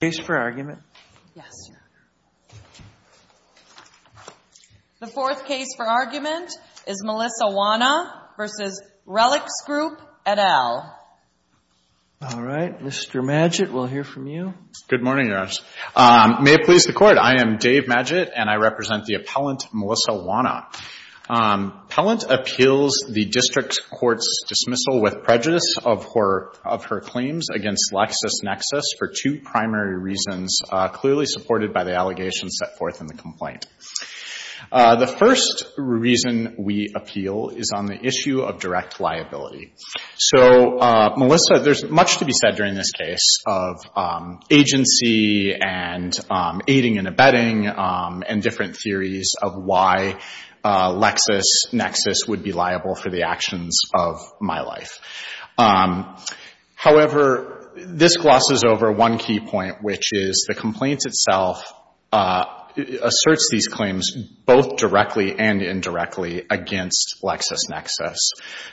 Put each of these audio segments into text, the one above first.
The fourth case for argument is Melissa Wanna v. RELX Group, et al. All right, Mr. Maggett, we'll hear from you. Good morning, Your Honor. May it please the Court, I am Dave Maggett, and I represent the appellant Melissa Wanna. Appellant appeals the district court's dismissal with prejudice of her claims against LexisNexis for two primary reasons clearly supported by the allegations set forth in the complaint. The first reason we appeal is on the issue of direct liability. So Melissa, there's much to be said during this case of agency and aiding and abetting and different theories of why LexisNexis would be liable for the actions of my life. However, this glosses over one key point, which is the complaint itself asserts these claims both directly and indirectly against LexisNexis.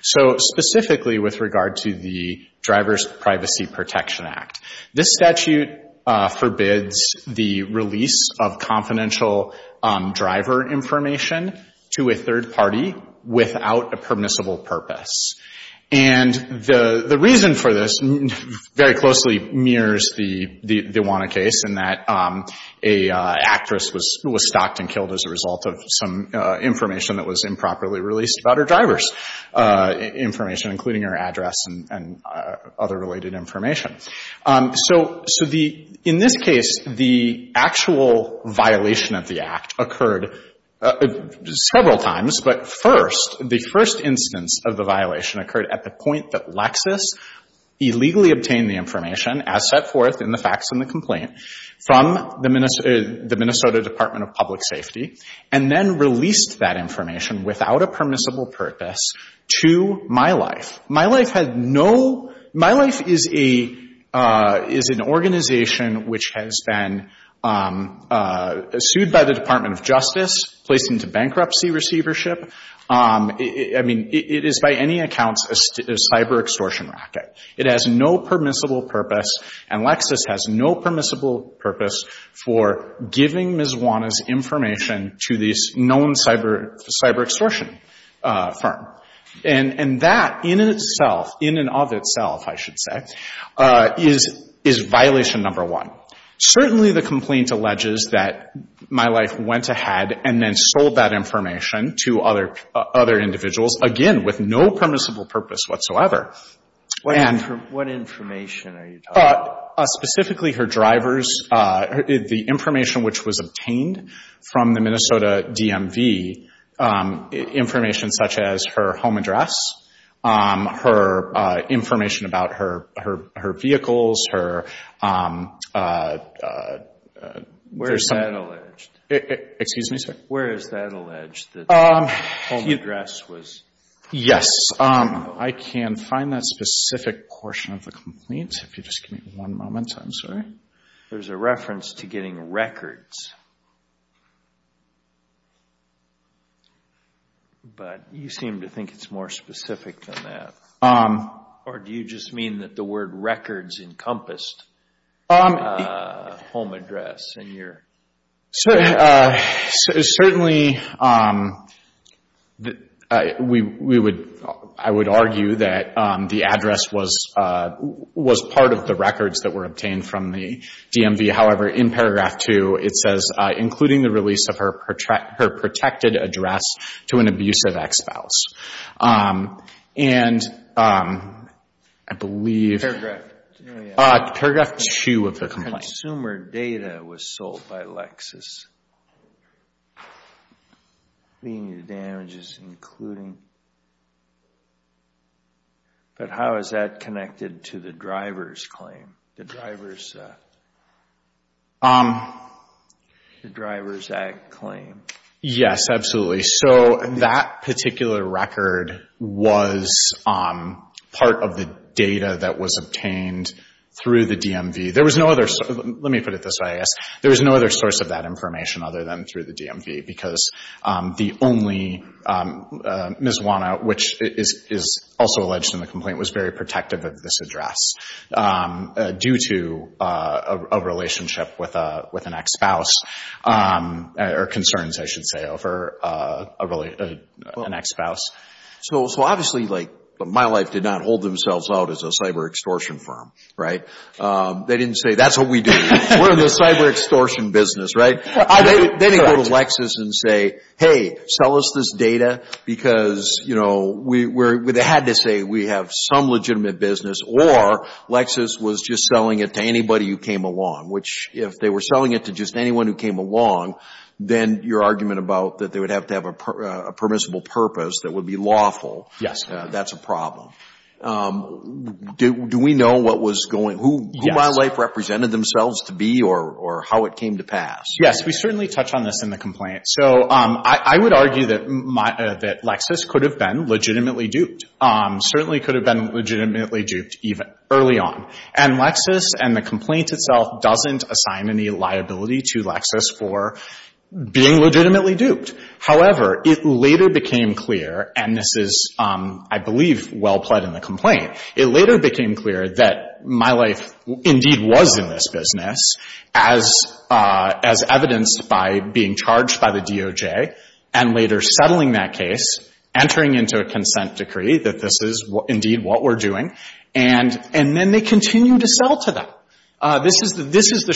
So specifically with regard to the Driver's Privacy Protection Act, this statute forbids the release of confidential driver information to a third party without a permissible purpose. And the reason for this very closely mirrors the Wanna case in that an actress was stalked and killed as a result of some information that was improperly released about her driver's information, including her address and other related information. So in this case, the actual violation of the act occurred several times. But first, the first instance of the violation occurred at the point that Lexis illegally obtained the information as set forth in the facts in the complaint from the Minnesota Department of Public Safety and then released that information without a permissible purpose to MyLife. MyLife is an organization which has been sued by the Department of Justice, placed into bankruptcy receivership. I mean, it is by any accounts a cyber extortion racket. It has no permissible purpose, and Lexis has no permissible purpose for giving Ms. Wanna's information to this known cyber extortion firm. And that in itself, in and of itself, I should say, is violation number one. Certainly the complaint alleges that MyLife went ahead and then sold that information to other individuals, again, with no permissible purpose whatsoever. What information are you talking about? Specifically her drivers, the information which was obtained from the Minnesota DMV, information such as her home address, her information about her vehicles, her... Where is that alleged? Excuse me, sir? Where is that alleged, that the home address was... Yes, I can find that specific portion of the complaint. If you just give me one moment, I'm sorry. There's a reference to getting records. But you seem to think it's more specific than that. Or do you just mean that the word records encompassed a home address in your... Certainly, I would argue that the address was part of the records that were obtained from the DMV. However, in paragraph two, it says, including the release of her protected address to an abusive ex-spouse. And I believe... Paragraph two. Paragraph two of the complaint. Consumer data was sold by Lexis. Meaning the damages including... But how is that connected to the driver's claim? The driver's... The driver's act claim. Yes, absolutely. So that particular record was part of the data that was obtained through the DMV. There was no other... Let me put it this way, I guess. There was no other source of that information other than through the DMV. Because the only... Ms. Juana, which is also alleged in the complaint, was very protective of this address. Due to a relationship with an ex-spouse. Or concerns, I should say, over an ex-spouse. So obviously, like, My Life did not hold themselves out as a cyber extortion firm, right? They didn't say, that's what we do. We're in the cyber extortion business, right? They didn't go to Lexis and say, hey, sell us this data. Because, you know, they had to say, we have some legitimate business. Or Lexis was just selling it to anybody who came along. Which, if they were selling it to just anyone who came along, then your argument about that they would have to have a permissible purpose that would be lawful. That's a problem. Do we know what was going... Yes. Who My Life represented themselves to be or how it came to pass? Yes, we certainly touch on this in the complaint. So I would argue that Lexis could have been legitimately duped. Certainly could have been legitimately duped early on. And Lexis and the complaint itself doesn't assign any liability to Lexis for being legitimately duped. However, it later became clear, and this is, I believe, well pled in the complaint, it later became clear that My Life indeed was in this business as evidenced by being charged by the DOJ and later settling that case, entering into a consent decree that this is indeed what we're doing. And then they continue to sell to them. This is the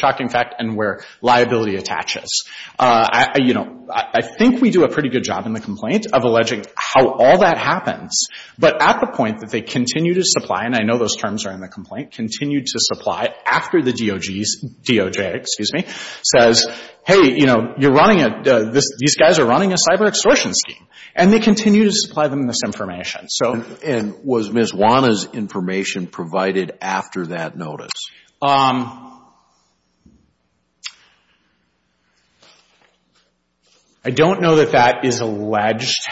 shocking fact and where liability attaches. You know, I think we do a pretty good job in the complaint of alleging how all that happens. But at the point that they continue to supply, and I know those terms are in the complaint, continue to supply after the DOJ says, hey, you know, these guys are running a cyber extortion scheme. And they continue to supply them this information. And was Ms. Juana's information provided after that notice? I don't know that that is alleged.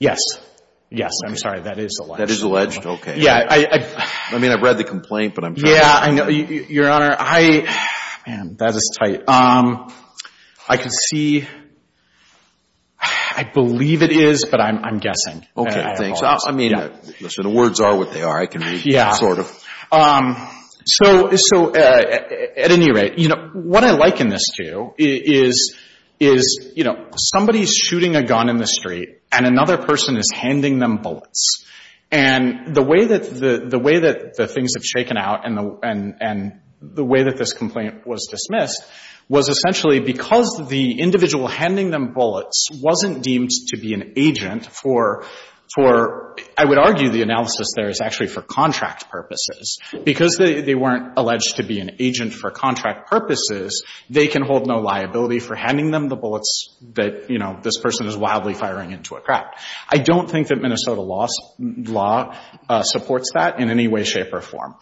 Yes. Yes, I'm sorry. That is alleged. That is alleged? Okay. Yeah. I mean, I've read the complaint, but I'm not sure. Yeah, I know. Your Honor, I, man, that is tight. I can see, I believe it is, but I'm guessing. Okay, thanks. I mean, the words are what they are. I can read them, sort of. Yeah. So at any rate, you know, what I liken this to is, you know, somebody's shooting a gun in the street and another person is handing them bullets. And the way that the things have shaken out and the way that this complaint was dismissed was essentially because the individual handing them bullets wasn't deemed to be an agent for, I would argue the analysis there is actually for contract purposes. Because they weren't alleged to be an agent for contract purposes, they can hold no liability for handing them the bullets that, you know, this person is wildly firing into a crowd. I don't think that Minnesota law supports that in any way, shape, or form.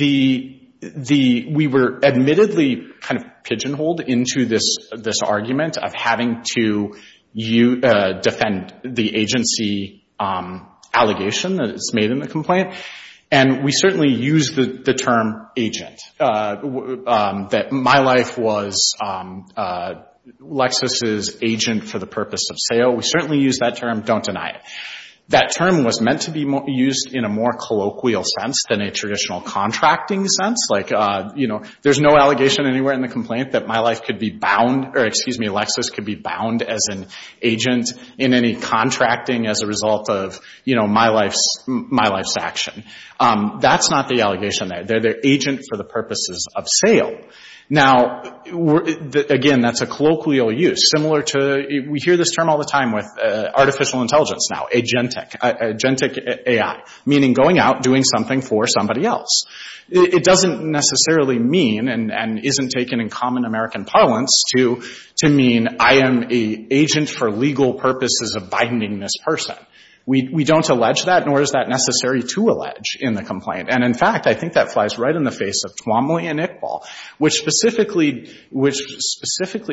We were admittedly kind of pigeonholed into this argument of having to defend the agency allegation that is made in the complaint. And we certainly use the term agent, that my life was Lexis' agent for the purpose of sale. We certainly use that term. Don't deny it. That term was meant to be used in a more colloquial sense than a traditional contracting sense. Like, you know, there's no allegation anywhere in the complaint that my life could be bound, or excuse me, Lexis could be bound as an agent in any contracting as a result of, you know, my life's action. That's not the allegation there. They're agent for the purposes of sale. Now, again, that's a colloquial use, similar to, we hear this term all the time with artificial intelligence now, agentic, agentic AI, meaning going out, doing something for somebody else. It doesn't necessarily mean, and isn't taken in common American parlance, to mean I am an agent for legal purposes of binding this person. We don't allege that, nor is that necessary to allege in the complaint. And, in fact, I think that flies right in the face of Twombly and Iqbal, which specifically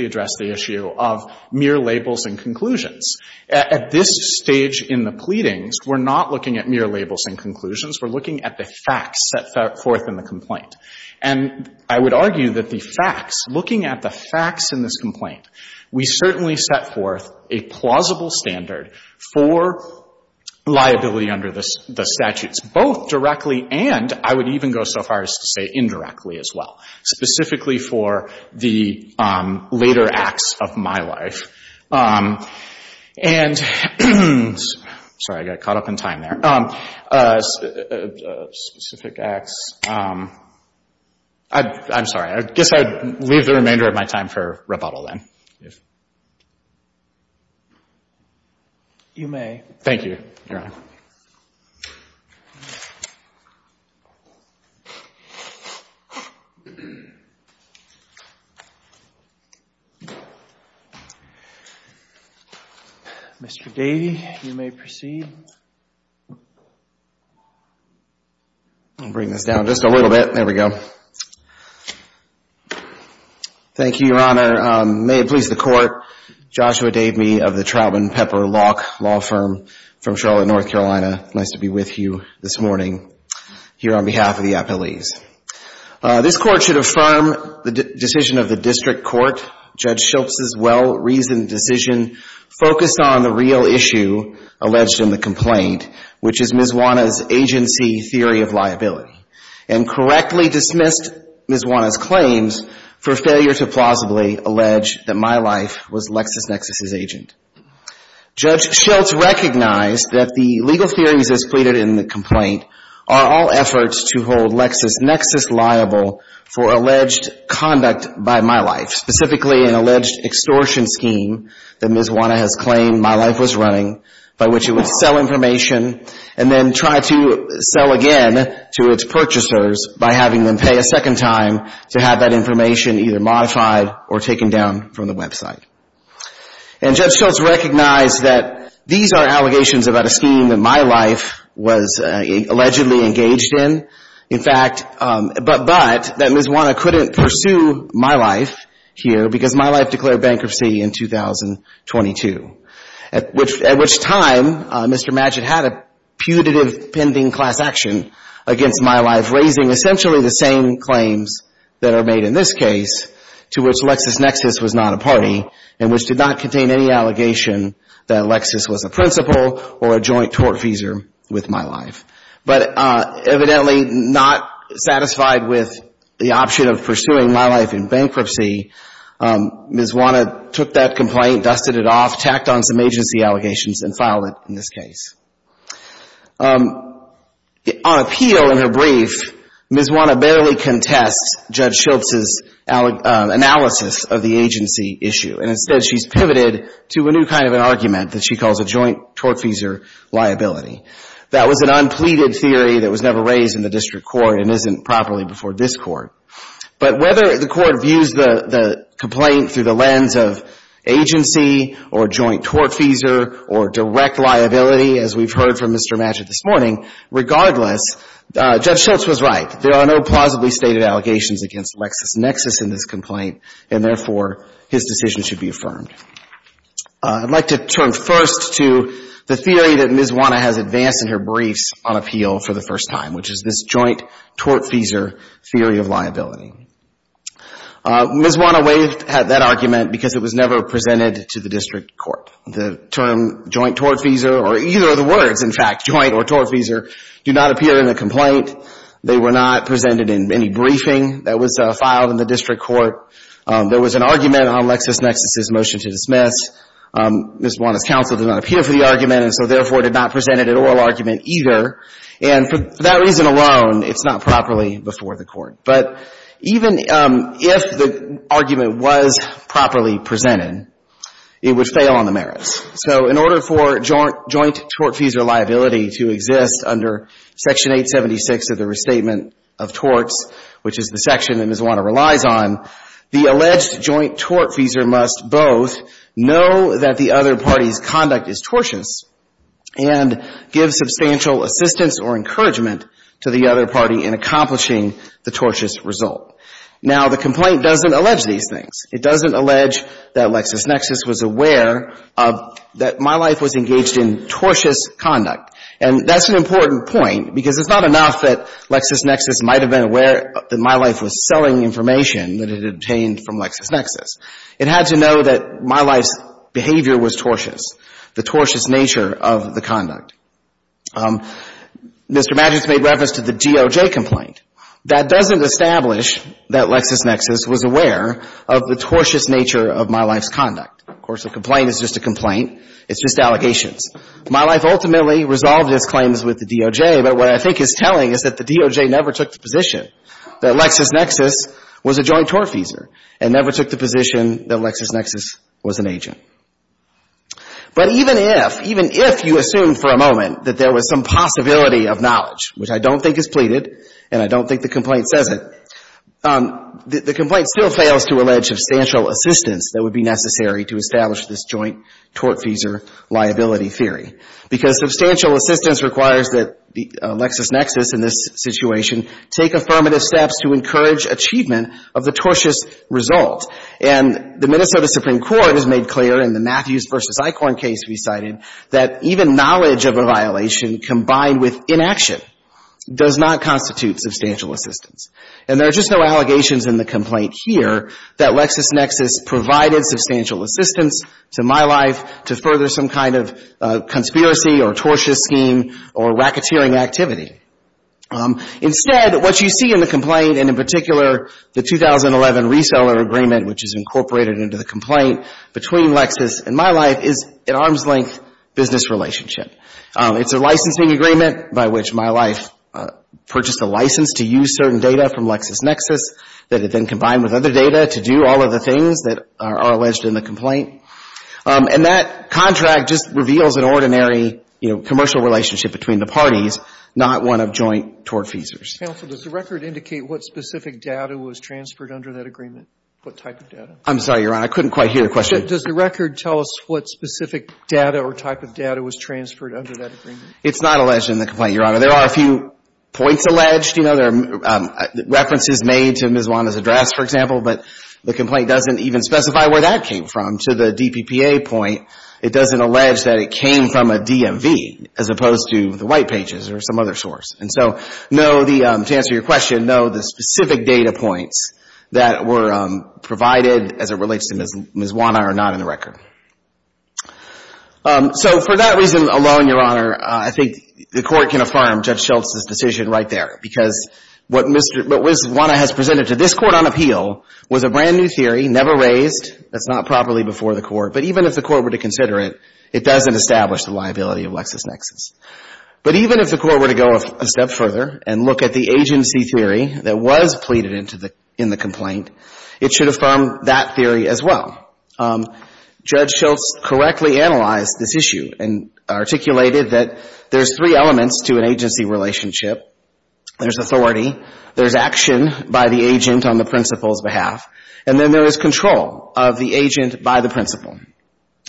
address the issue of mere labels and conclusions. At this stage in the pleadings, we're not looking at mere labels and conclusions. We're looking at the facts set forth in the complaint. And I would argue that the facts, looking at the facts in this complaint, we certainly set forth a plausible standard for liability under the statutes, both directly and, I would even go so far as to say indirectly as well, specifically for the later acts of my life. And, sorry, I got caught up in time there. Specific acts, I'm sorry. I guess I'd leave the remainder of my time for rebuttal then. You may. Thank you, Your Honor. Mr. Davey, you may proceed. I'll bring this down just a little bit. There we go. Thank you, Your Honor. May it please the Court. Joshua Davey of the Trautman Pepper Law Firm from Charlotte, North Carolina. Nice to be with you this morning here on behalf of the appellees. This Court should affirm the decision of the District Court. Judge Schultz's well-reasoned decision focused on the real issue alleged in the complaint, which is Ms. Juana's agency theory of liability, and correctly dismissed Ms. Juana's claims for failure to plausibly allege that my life was Lexis Nexis's agent. Judge Schultz recognized that the legal theories as pleaded in the complaint are all efforts to hold Lexis Nexis liable for alleged conduct by MyLife, specifically an alleged extortion scheme that Ms. Juana has claimed MyLife was running, by which it would sell information and then try to sell again to its purchasers by having them pay a second time to have that information either modified or taken down from the website. And Judge Schultz recognized that these are allegations about a scheme that MyLife was allegedly engaged in, in fact, but that Ms. Juana couldn't pursue MyLife here because MyLife declared bankruptcy in 2022, at which time Mr. Madgett had a putative pending class action against MyLife, raising essentially the same claims that are made in this case, to which Lexis Nexis was not a party, and which did not contain any allegation that Lexis was a principal or a joint tortfeasor with MyLife. But evidently not satisfied with the option of pursuing MyLife in bankruptcy, Ms. Juana took that complaint, dusted it off, tacked on some agency allegations, and filed it in this case. On appeal in her brief, Ms. Juana barely contests Judge Schultz's analysis of the agency issue, and instead she's pivoted to a new kind of an argument that she calls a joint tortfeasor liability. That was an unpleaded theory that was never raised in the district court and isn't properly before this court. But whether the court views the complaint through the lens of agency or joint tortfeasor or direct liability, as we've heard from Mr. Madgett this morning, regardless, Judge Schultz was right. There are no plausibly stated allegations against Lexis Nexis in this complaint, and therefore his decision should be affirmed. I'd like to turn first to the theory that Ms. Juana has advanced in her briefs on appeal for the first time, which is this joint tortfeasor theory of liability. Ms. Juana waived that argument because it was never presented to the district court. The term joint tortfeasor, or either of the words, in fact, joint or tortfeasor, do not appear in the complaint. They were not presented in any briefing that was filed in the district court. There was an argument on Lexis Nexis's motion to dismiss. Ms. Juana's counsel did not appear for the argument and so, therefore, did not present it at oral argument either. And for that reason alone, it's not properly before the court. But even if the argument was properly presented, it would fail on the merits. So in order for joint tortfeasor liability to exist under Section 876 of the Restatement of Torts, which is the section that Ms. Juana relies on, the alleged joint tortfeasor must both know that the other party's conduct is tortious and give substantial assistance or encouragement to the other party in accomplishing the tortious result. Now, the complaint doesn't allege these things. It doesn't allege that Lexis Nexis was aware that My Life was engaged in tortious conduct. And that's an important point because it's not enough that Lexis Nexis might have been aware that My Life was selling information that it had obtained from Lexis Nexis. It had to know that My Life's behavior was tortious, the tortious nature of the conduct. Mr. Maddux made reference to the DOJ complaint. That doesn't establish that Lexis Nexis was aware of the tortious nature of My Life's conduct. Of course, a complaint is just a complaint. It's just allegations. My Life ultimately resolved its claims with the DOJ, but what I think it's telling is that the DOJ never took the position that Lexis Nexis was a joint tortfeasor and never took the position that Lexis Nexis was an agent. But even if, even if you assume for a moment that there was some possibility of knowledge, which I don't think is pleaded, and I don't think the complaint says it, the complaint still fails to allege substantial assistance that would be necessary to establish this joint tortfeasor liability theory. Because substantial assistance requires that Lexis Nexis, in this situation, take affirmative steps to encourage achievement of the tortious result. And the Minnesota Supreme Court has made clear in the Matthews v. Eichorn case we cited that even knowledge of a violation combined with inaction does not constitute substantial assistance. And there are just no allegations in the complaint here that Lexis Nexis provided substantial assistance to My Life to further some kind of conspiracy or tortious scheme or racketeering activity. Instead, what you see in the complaint and in particular the 2011 reseller agreement which is incorporated into the complaint between Lexis and My Life is an arm's length business relationship. It's a licensing agreement by which My Life purchased a license to use certain data from Lexis Nexis that had been combined with other data to do all of the things that are alleged in the complaint. And that contract just reveals an ordinary, you know, commercial relationship between the parties, not one of joint tort feasors. Counsel, does the record indicate what specific data was transferred under that agreement? What type of data? I'm sorry, Your Honor. I couldn't quite hear your question. Does the record tell us what specific data or type of data was transferred under that agreement? It's not alleged in the complaint, Your Honor. There are a few points alleged. You know, there are references made to Ms. Wanda's address, for example, but the complaint doesn't even specify where that came from. To the DPPA point, it doesn't allege that it came from a DMV as opposed to the White Pages or some other source. And so, to answer your question, no, the specific data points that were provided as it relates to Ms. Wanda are not in the record. So for that reason alone, Your Honor, I think the Court can affirm Judge Schultz's decision right there, because what Ms. Wanda has presented to this Court on appeal was a brand new theory, never raised. That's not properly before the Court, but even if the Court were to consider it, it doesn't establish the liability of LexisNexis. But even if the Court were to go a step further and look at the agency theory that was pleaded into the complaint, it should affirm that theory as well. Judge Schultz correctly analyzed this issue and articulated that there's three elements to an agency relationship. There's authority. There's action by the agent on the principal's behalf. And then there is control of the agent by the principal.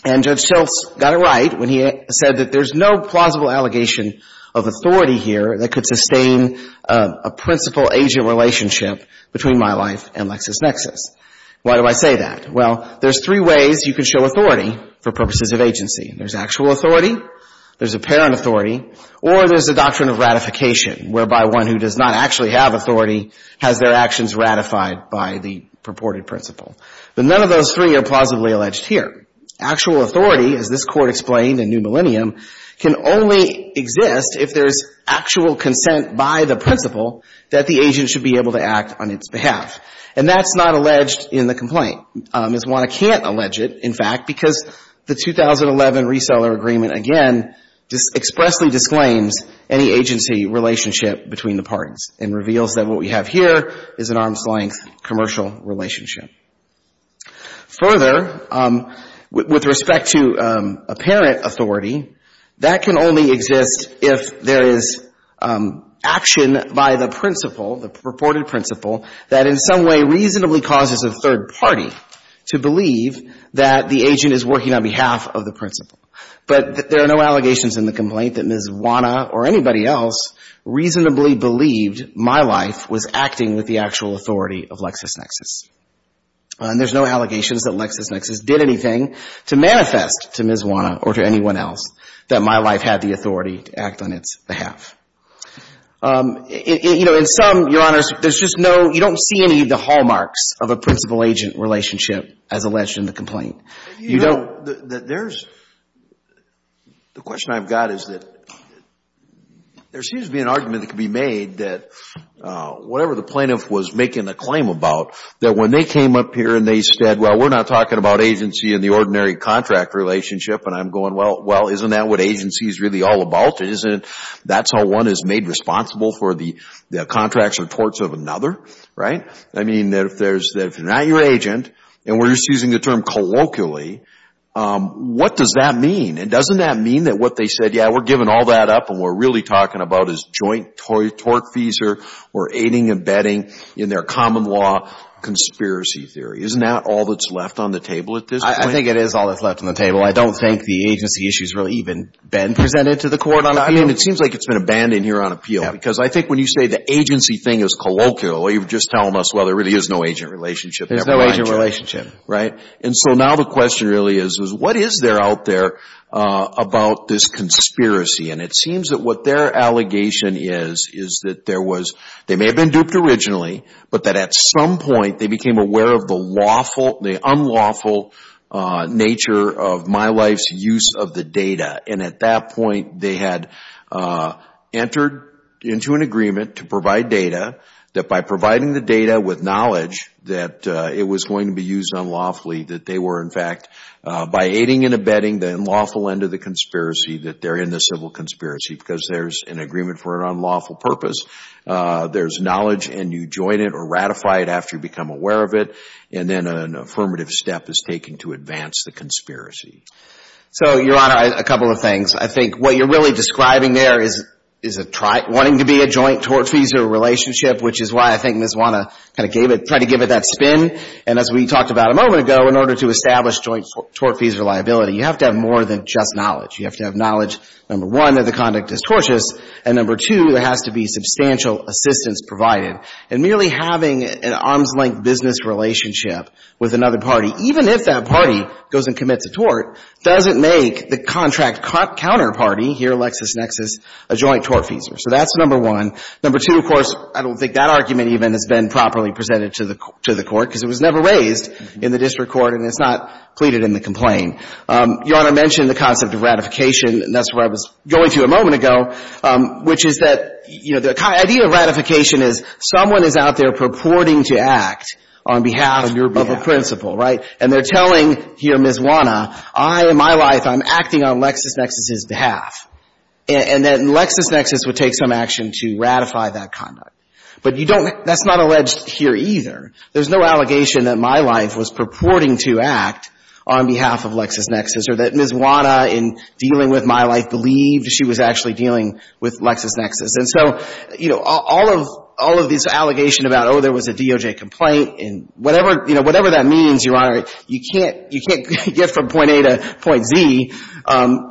And Judge Schultz got it right when he said that there's no plausible allegation of authority here that could sustain a principal-agent relationship between my life and LexisNexis. Why do I say that? Well, there's three ways you can show authority for purposes of agency. There's actual authority. There's apparent authority. Or there's the doctrine of ratification, whereby one who does not actually have authority has their actions ratified by the purported principal. But none of those three are plausibly alleged here. Actual authority, as this Court explained in New Millennium, can only exist if there's actual consent by the principal that the agent should be able to act on its behalf. And that's not alleged in the complaint. Ms. Wanna can't allege it, in fact, because the 2011 reseller agreement, again, expressly disclaims any agency relationship between the parties and reveals that what we have here is an arm's-length commercial relationship. Further, with respect to apparent authority, that can only exist if there is action by the principal, the purported principal, that in some way reasonably causes a third party to believe that the agent is working on behalf of the principal. But there are no allegations in the complaint that Ms. Wanna or anybody else reasonably believed My Life was acting with the actual authority of LexisNexis. And there's no allegations that LexisNexis did anything to manifest to Ms. Wanna or to anyone else that My Life had the authority to act on its behalf. You know, in some, Your Honors, there's just no — you don't see any of the hallmarks of a principal-agent relationship as alleged in the complaint. You don't — The question I've got is that there seems to be an argument that could be made that whatever the plaintiff was making a claim about, that when they came up here and they said, well, we're not talking about agency in the ordinary contract relationship, and I'm going, well, isn't that what agency is really all about? Isn't that how one is made responsible for the contracts and torts of another? Right? I mean, if they're not your agent, and we're just using the term colloquially, what's — what does that mean? And doesn't that mean that what they said, yeah, we're giving all that up and we're really talking about is joint tort fees or aiding and abetting in their common law conspiracy theory? Isn't that all that's left on the table at this point? I think it is all that's left on the table. I don't think the agency issue has really even been presented to the Court on appeal. I mean, it seems like it's been abandoned here on appeal. Yeah. Because I think when you say the agency thing is colloquial, you're just telling us, well, there really is no agent relationship. There's no agent relationship. Right? Right. And so now the question really is, is what is there out there about this conspiracy? And it seems that what their allegation is, is that there was — they may have been duped originally, but that at some point they became aware of the lawful, the unlawful nature of MyLife's use of the data. And at that point, they had entered into an agreement to provide data, that by providing the data with knowledge that it was going to be used unlawfully, that they were, in fact, by aiding and abetting the unlawful end of the conspiracy, that they're in the civil conspiracy. Because there's an agreement for an unlawful purpose. There's knowledge, and you join it or ratify it after you become aware of it. And then an affirmative step is taken to advance the conspiracy. So, Your Honor, a couple of things. I think what you're really describing there is wanting to be a joint tort-feasor relationship, which is why I think Ms. Wanna kind of gave it — tried to give it that spin. And as we talked about a moment ago, in order to establish joint tort-feasor liability, you have to have more than just knowledge. You have to have knowledge, number one, that the conduct is tortious, and number two, there has to be substantial assistance provided. And merely having an arm's-length business relationship with another party, even if that party goes and commits a tort, doesn't make the contract counterparty here, LexisNexis, a joint tort-feasor. So that's number one. Number two, of course, I don't think that argument even has been properly presented to the Court, because it was never raised in the district court, and it's not pleaded in the complaint. Your Honor mentioned the concept of ratification, and that's where I was going to a moment ago, which is that, you know, the idea of ratification is someone is out there purporting to act on behalf of a principal, right? And they're telling here Ms. Wanna, I, in my life, I'm acting on LexisNexis's or that Ms. Wanna, in dealing with my life, believed she was actually dealing with LexisNexis. And so, you know, all of these allegations about, oh, there was a DOJ complaint and whatever, you know, whatever that means, Your Honor, you can't get from point A to point Z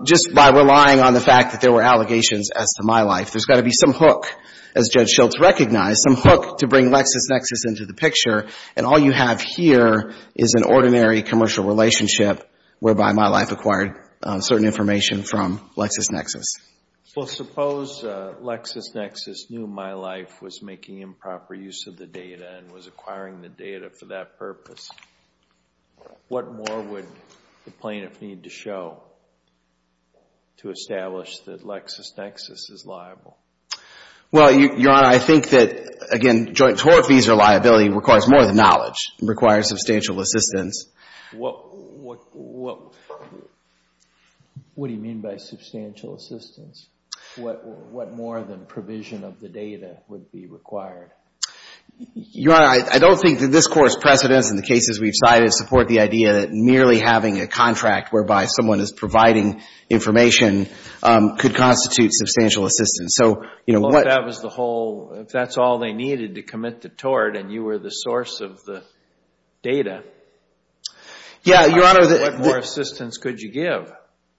just by relying on the fact that there were allegations as to my life. There's got to be some hook. As Judge Schultz recognized, some hook to bring LexisNexis into the picture. And all you have here is an ordinary commercial relationship whereby my life acquired certain information from LexisNexis. Well, suppose LexisNexis knew my life was making improper use of the data and was acquiring the data for that purpose. What more would the plaintiff need to show to establish that LexisNexis is liable? Well, Your Honor, I think that, again, joint tort fees or liability requires more than knowledge. It requires substantial assistance. What do you mean by substantial assistance? What more than provision of the data would be required? Your Honor, I don't think that this Court's precedence in the cases we've cited support the idea that merely having a contract whereby someone is providing information could constitute substantial assistance. Well, if that was the whole, if that's all they needed to commit the tort and you were the source of the data, what more assistance could you give?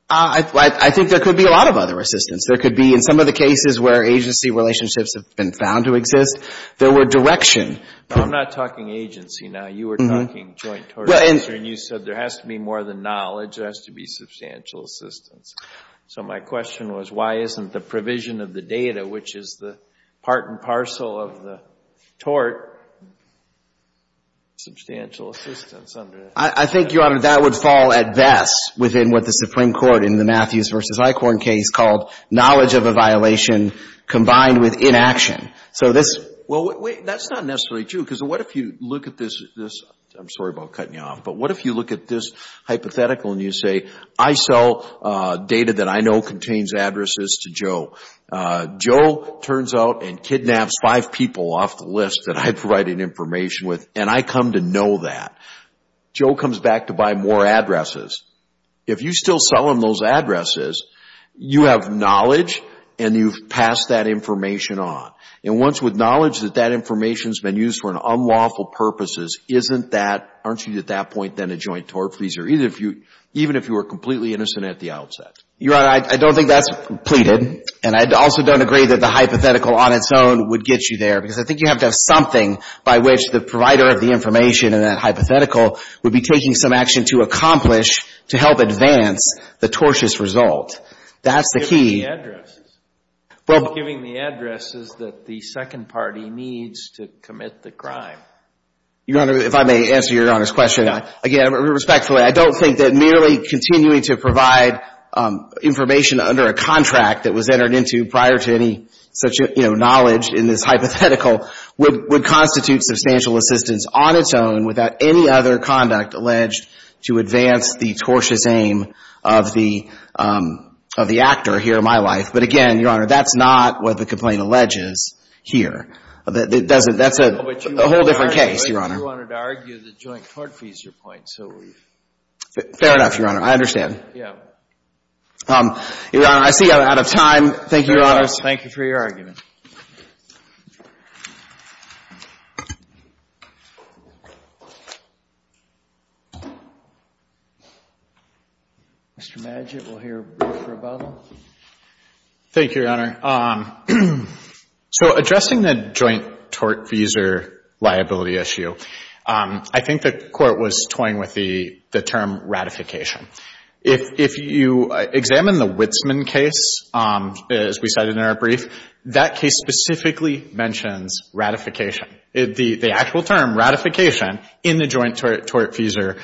I think there could be a lot of other assistance. There could be, in some of the cases where agency relationships have been found to exist, there were direction. I'm not talking agency now. You were talking joint tort. And you said there has to be more than knowledge. There has to be substantial assistance. So my question was, why isn't the provision of the data, which is the part and parcel of the tort, substantial assistance under that? I think, Your Honor, that would fall at best within what the Supreme Court in the Matthews v. Eichhorn case called knowledge of a violation combined with inaction. So this — Well, wait. That's not necessarily true. Because what if you look at this — I'm sorry about cutting you off. But what if you look at this hypothetical and you say, I sell data that I know contains addresses to Joe. Joe turns out and kidnaps five people off the list that I provided information with, and I come to know that. Joe comes back to buy more addresses. If you still sell him those addresses, you have knowledge and you've passed that information on. And once with knowledge that that information has been used for unlawful purposes, isn't that — aren't you at that point then a joint tort freezer, even if you were completely innocent at the outset? Your Honor, I don't think that's pleaded. And I also don't agree that the hypothetical on its own would get you there. Because I think you have to have something by which the provider of the information in that hypothetical would be taking some action to accomplish to help advance the tortious result. That's the key. Well, giving the addresses that the second party needs to commit the crime. Your Honor, if I may answer Your Honor's question, again, respectfully, I don't think that merely continuing to provide information under a contract that was entered into prior to any such, you know, knowledge in this hypothetical would constitute substantial assistance on its own without any other conduct alleged to advance the tortious aim of the actor here in my life. But again, Your Honor, that's not what the complaint alleges here. That's a whole different case, Your Honor. But you wanted to argue the joint tort freezer point, so we've — Fair enough, Your Honor. I understand. Yeah. Your Honor, I see I'm out of time. Thank you, Your Honor. Thank you for your argument. Mr. Madgett, we'll hear a brief rebuttal. Thank you, Your Honor. So addressing the joint tort freezer liability issue, I think the Court was toying with the term ratification. If you examine the Witzman case, as we cited in our brief, that case specifically mentions ratification. The actual term, ratification, in the joint tort freezer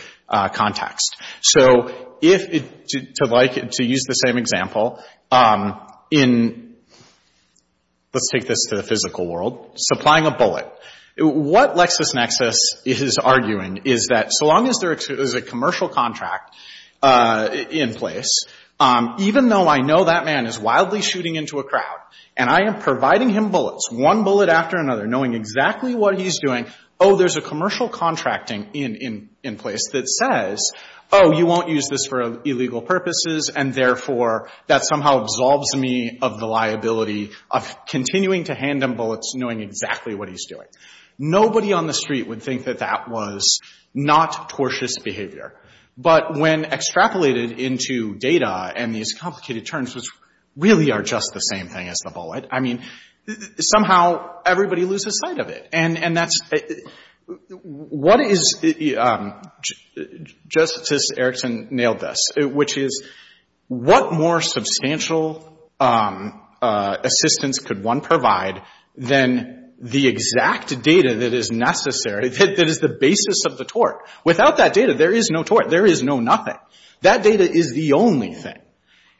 context. So to use the same example, let's take this to the physical world. Supplying a bullet. What LexisNexis is arguing is that so long as there is a commercial contract in place, even though I know that man is wildly shooting into a crowd and I am providing him bullets, one bullet after another, knowing exactly what he's doing, oh, there's a commercial contracting in place that says, oh, you won't use this for illegal purposes, and therefore that somehow absolves me of the liability of continuing to hand him bullets, knowing exactly what he's doing. Nobody on the street would think that that was not tortious behavior. But when extrapolated into data and these complicated terms, which really are just the same thing as the bullet, I mean, somehow everybody loses sight of it. And that's — what is — Justice Erickson nailed this, which is what more substantial assistance could one provide than the exact data that is necessary, that is the basis of the tort? Without that data, there is no tort. There is no nothing. That data is the only thing.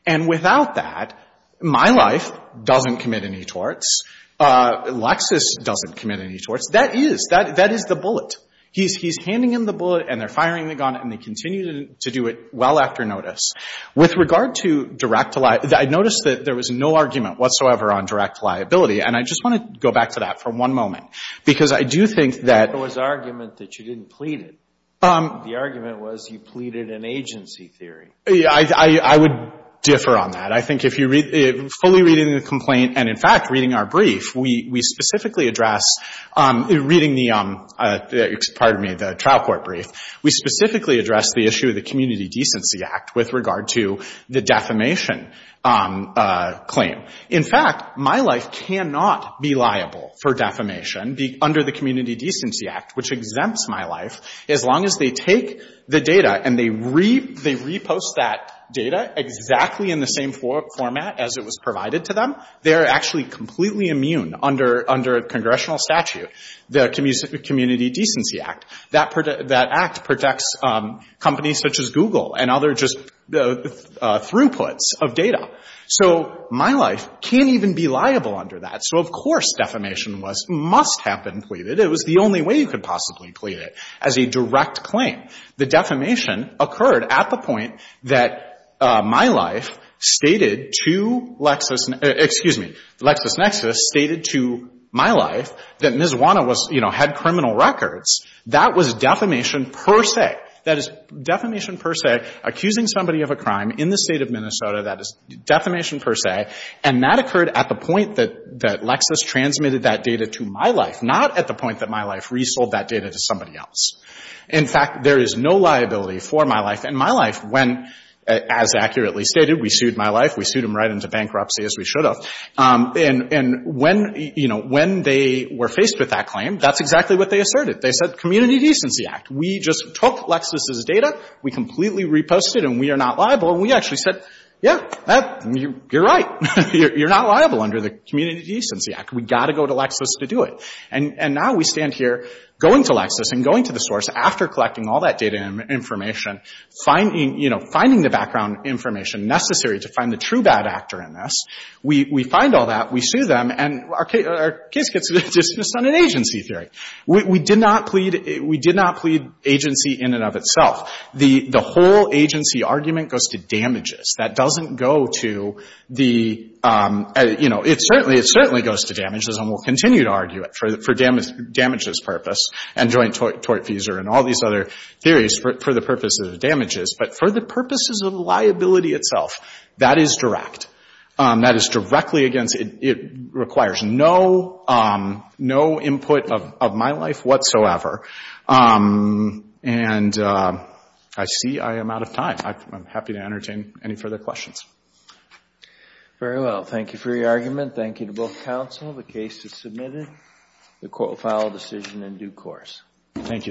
And without that, my life doesn't commit any torts. Lexis doesn't commit any torts. That is — that is the bullet. He's handing him the bullet, and they're firing the gun, and they continue to do it well after notice. With regard to direct — I noticed that there was no argument whatsoever on direct liability, and I just want to go back to that for one moment, because I do think that — There was argument that you didn't plead it. The argument was you pleaded an agency theory. I would differ on that. I think if you read — fully reading the complaint and, in fact, reading our brief, we specifically address — reading the — pardon me, the trial court brief, we specifically address the issue of the Community Decency Act with regard to the defamation claim. In fact, my life cannot be liable for defamation under the Community Decency Act, which exempts my life. As long as they take the data and they repost that data exactly in the same format as it was provided to them, they are actually completely immune under congressional statute, the Community Decency Act. That act protects companies such as Google and other just throughputs of data. So my life can't even be liable under that. So, of course, defamation was — must have been pleaded. It was the only way you could possibly plead it, as a direct claim. The defamation occurred at the point that my life stated to Lexis — excuse me, LexisNexis stated to my life that Ms. Wanna was — you know, had criminal records. That was defamation per se. That is defamation per se, accusing somebody of a crime in the State of Minnesota. That is defamation per se. And that occurred at the point that Lexis transmitted that data to my life, not at the point that my life resold that data to somebody else. In fact, there is no liability for my life in my life when, as accurately stated, we sued my life. We sued him right into bankruptcy, as we should have. And when, you know, when they were faced with that claim, that's exactly what they asserted. They said Community Decency Act. We just took Lexis' data. We completely reposted it, and we are not liable. And we actually said, yeah, you're right. You're not liable under the Community Decency Act. We've got to go to Lexis to do it. And now we stand here going to Lexis and going to the source after collecting all that data and information, finding, you know, finding the background information necessary to find the true bad actor in this. We find all that. We sue them. And our case gets dismissed on an agency theory. We did not plead — we did not plead agency in and of itself. The whole agency argument goes to damages. That doesn't go to the — you know, it certainly goes to damages, and we'll continue to argue it for damages purpose and joint tort fees and all these other theories for the purposes of damages. But for the purposes of liability itself, that is direct. That is directly against — it requires no input of my life whatsoever. And I see I am out of time. I'm happy to entertain any further questions. Very well. Thank you for your argument. Thank you to both counsel. The case is submitted. The court will file a decision in due course. Thank you, sir.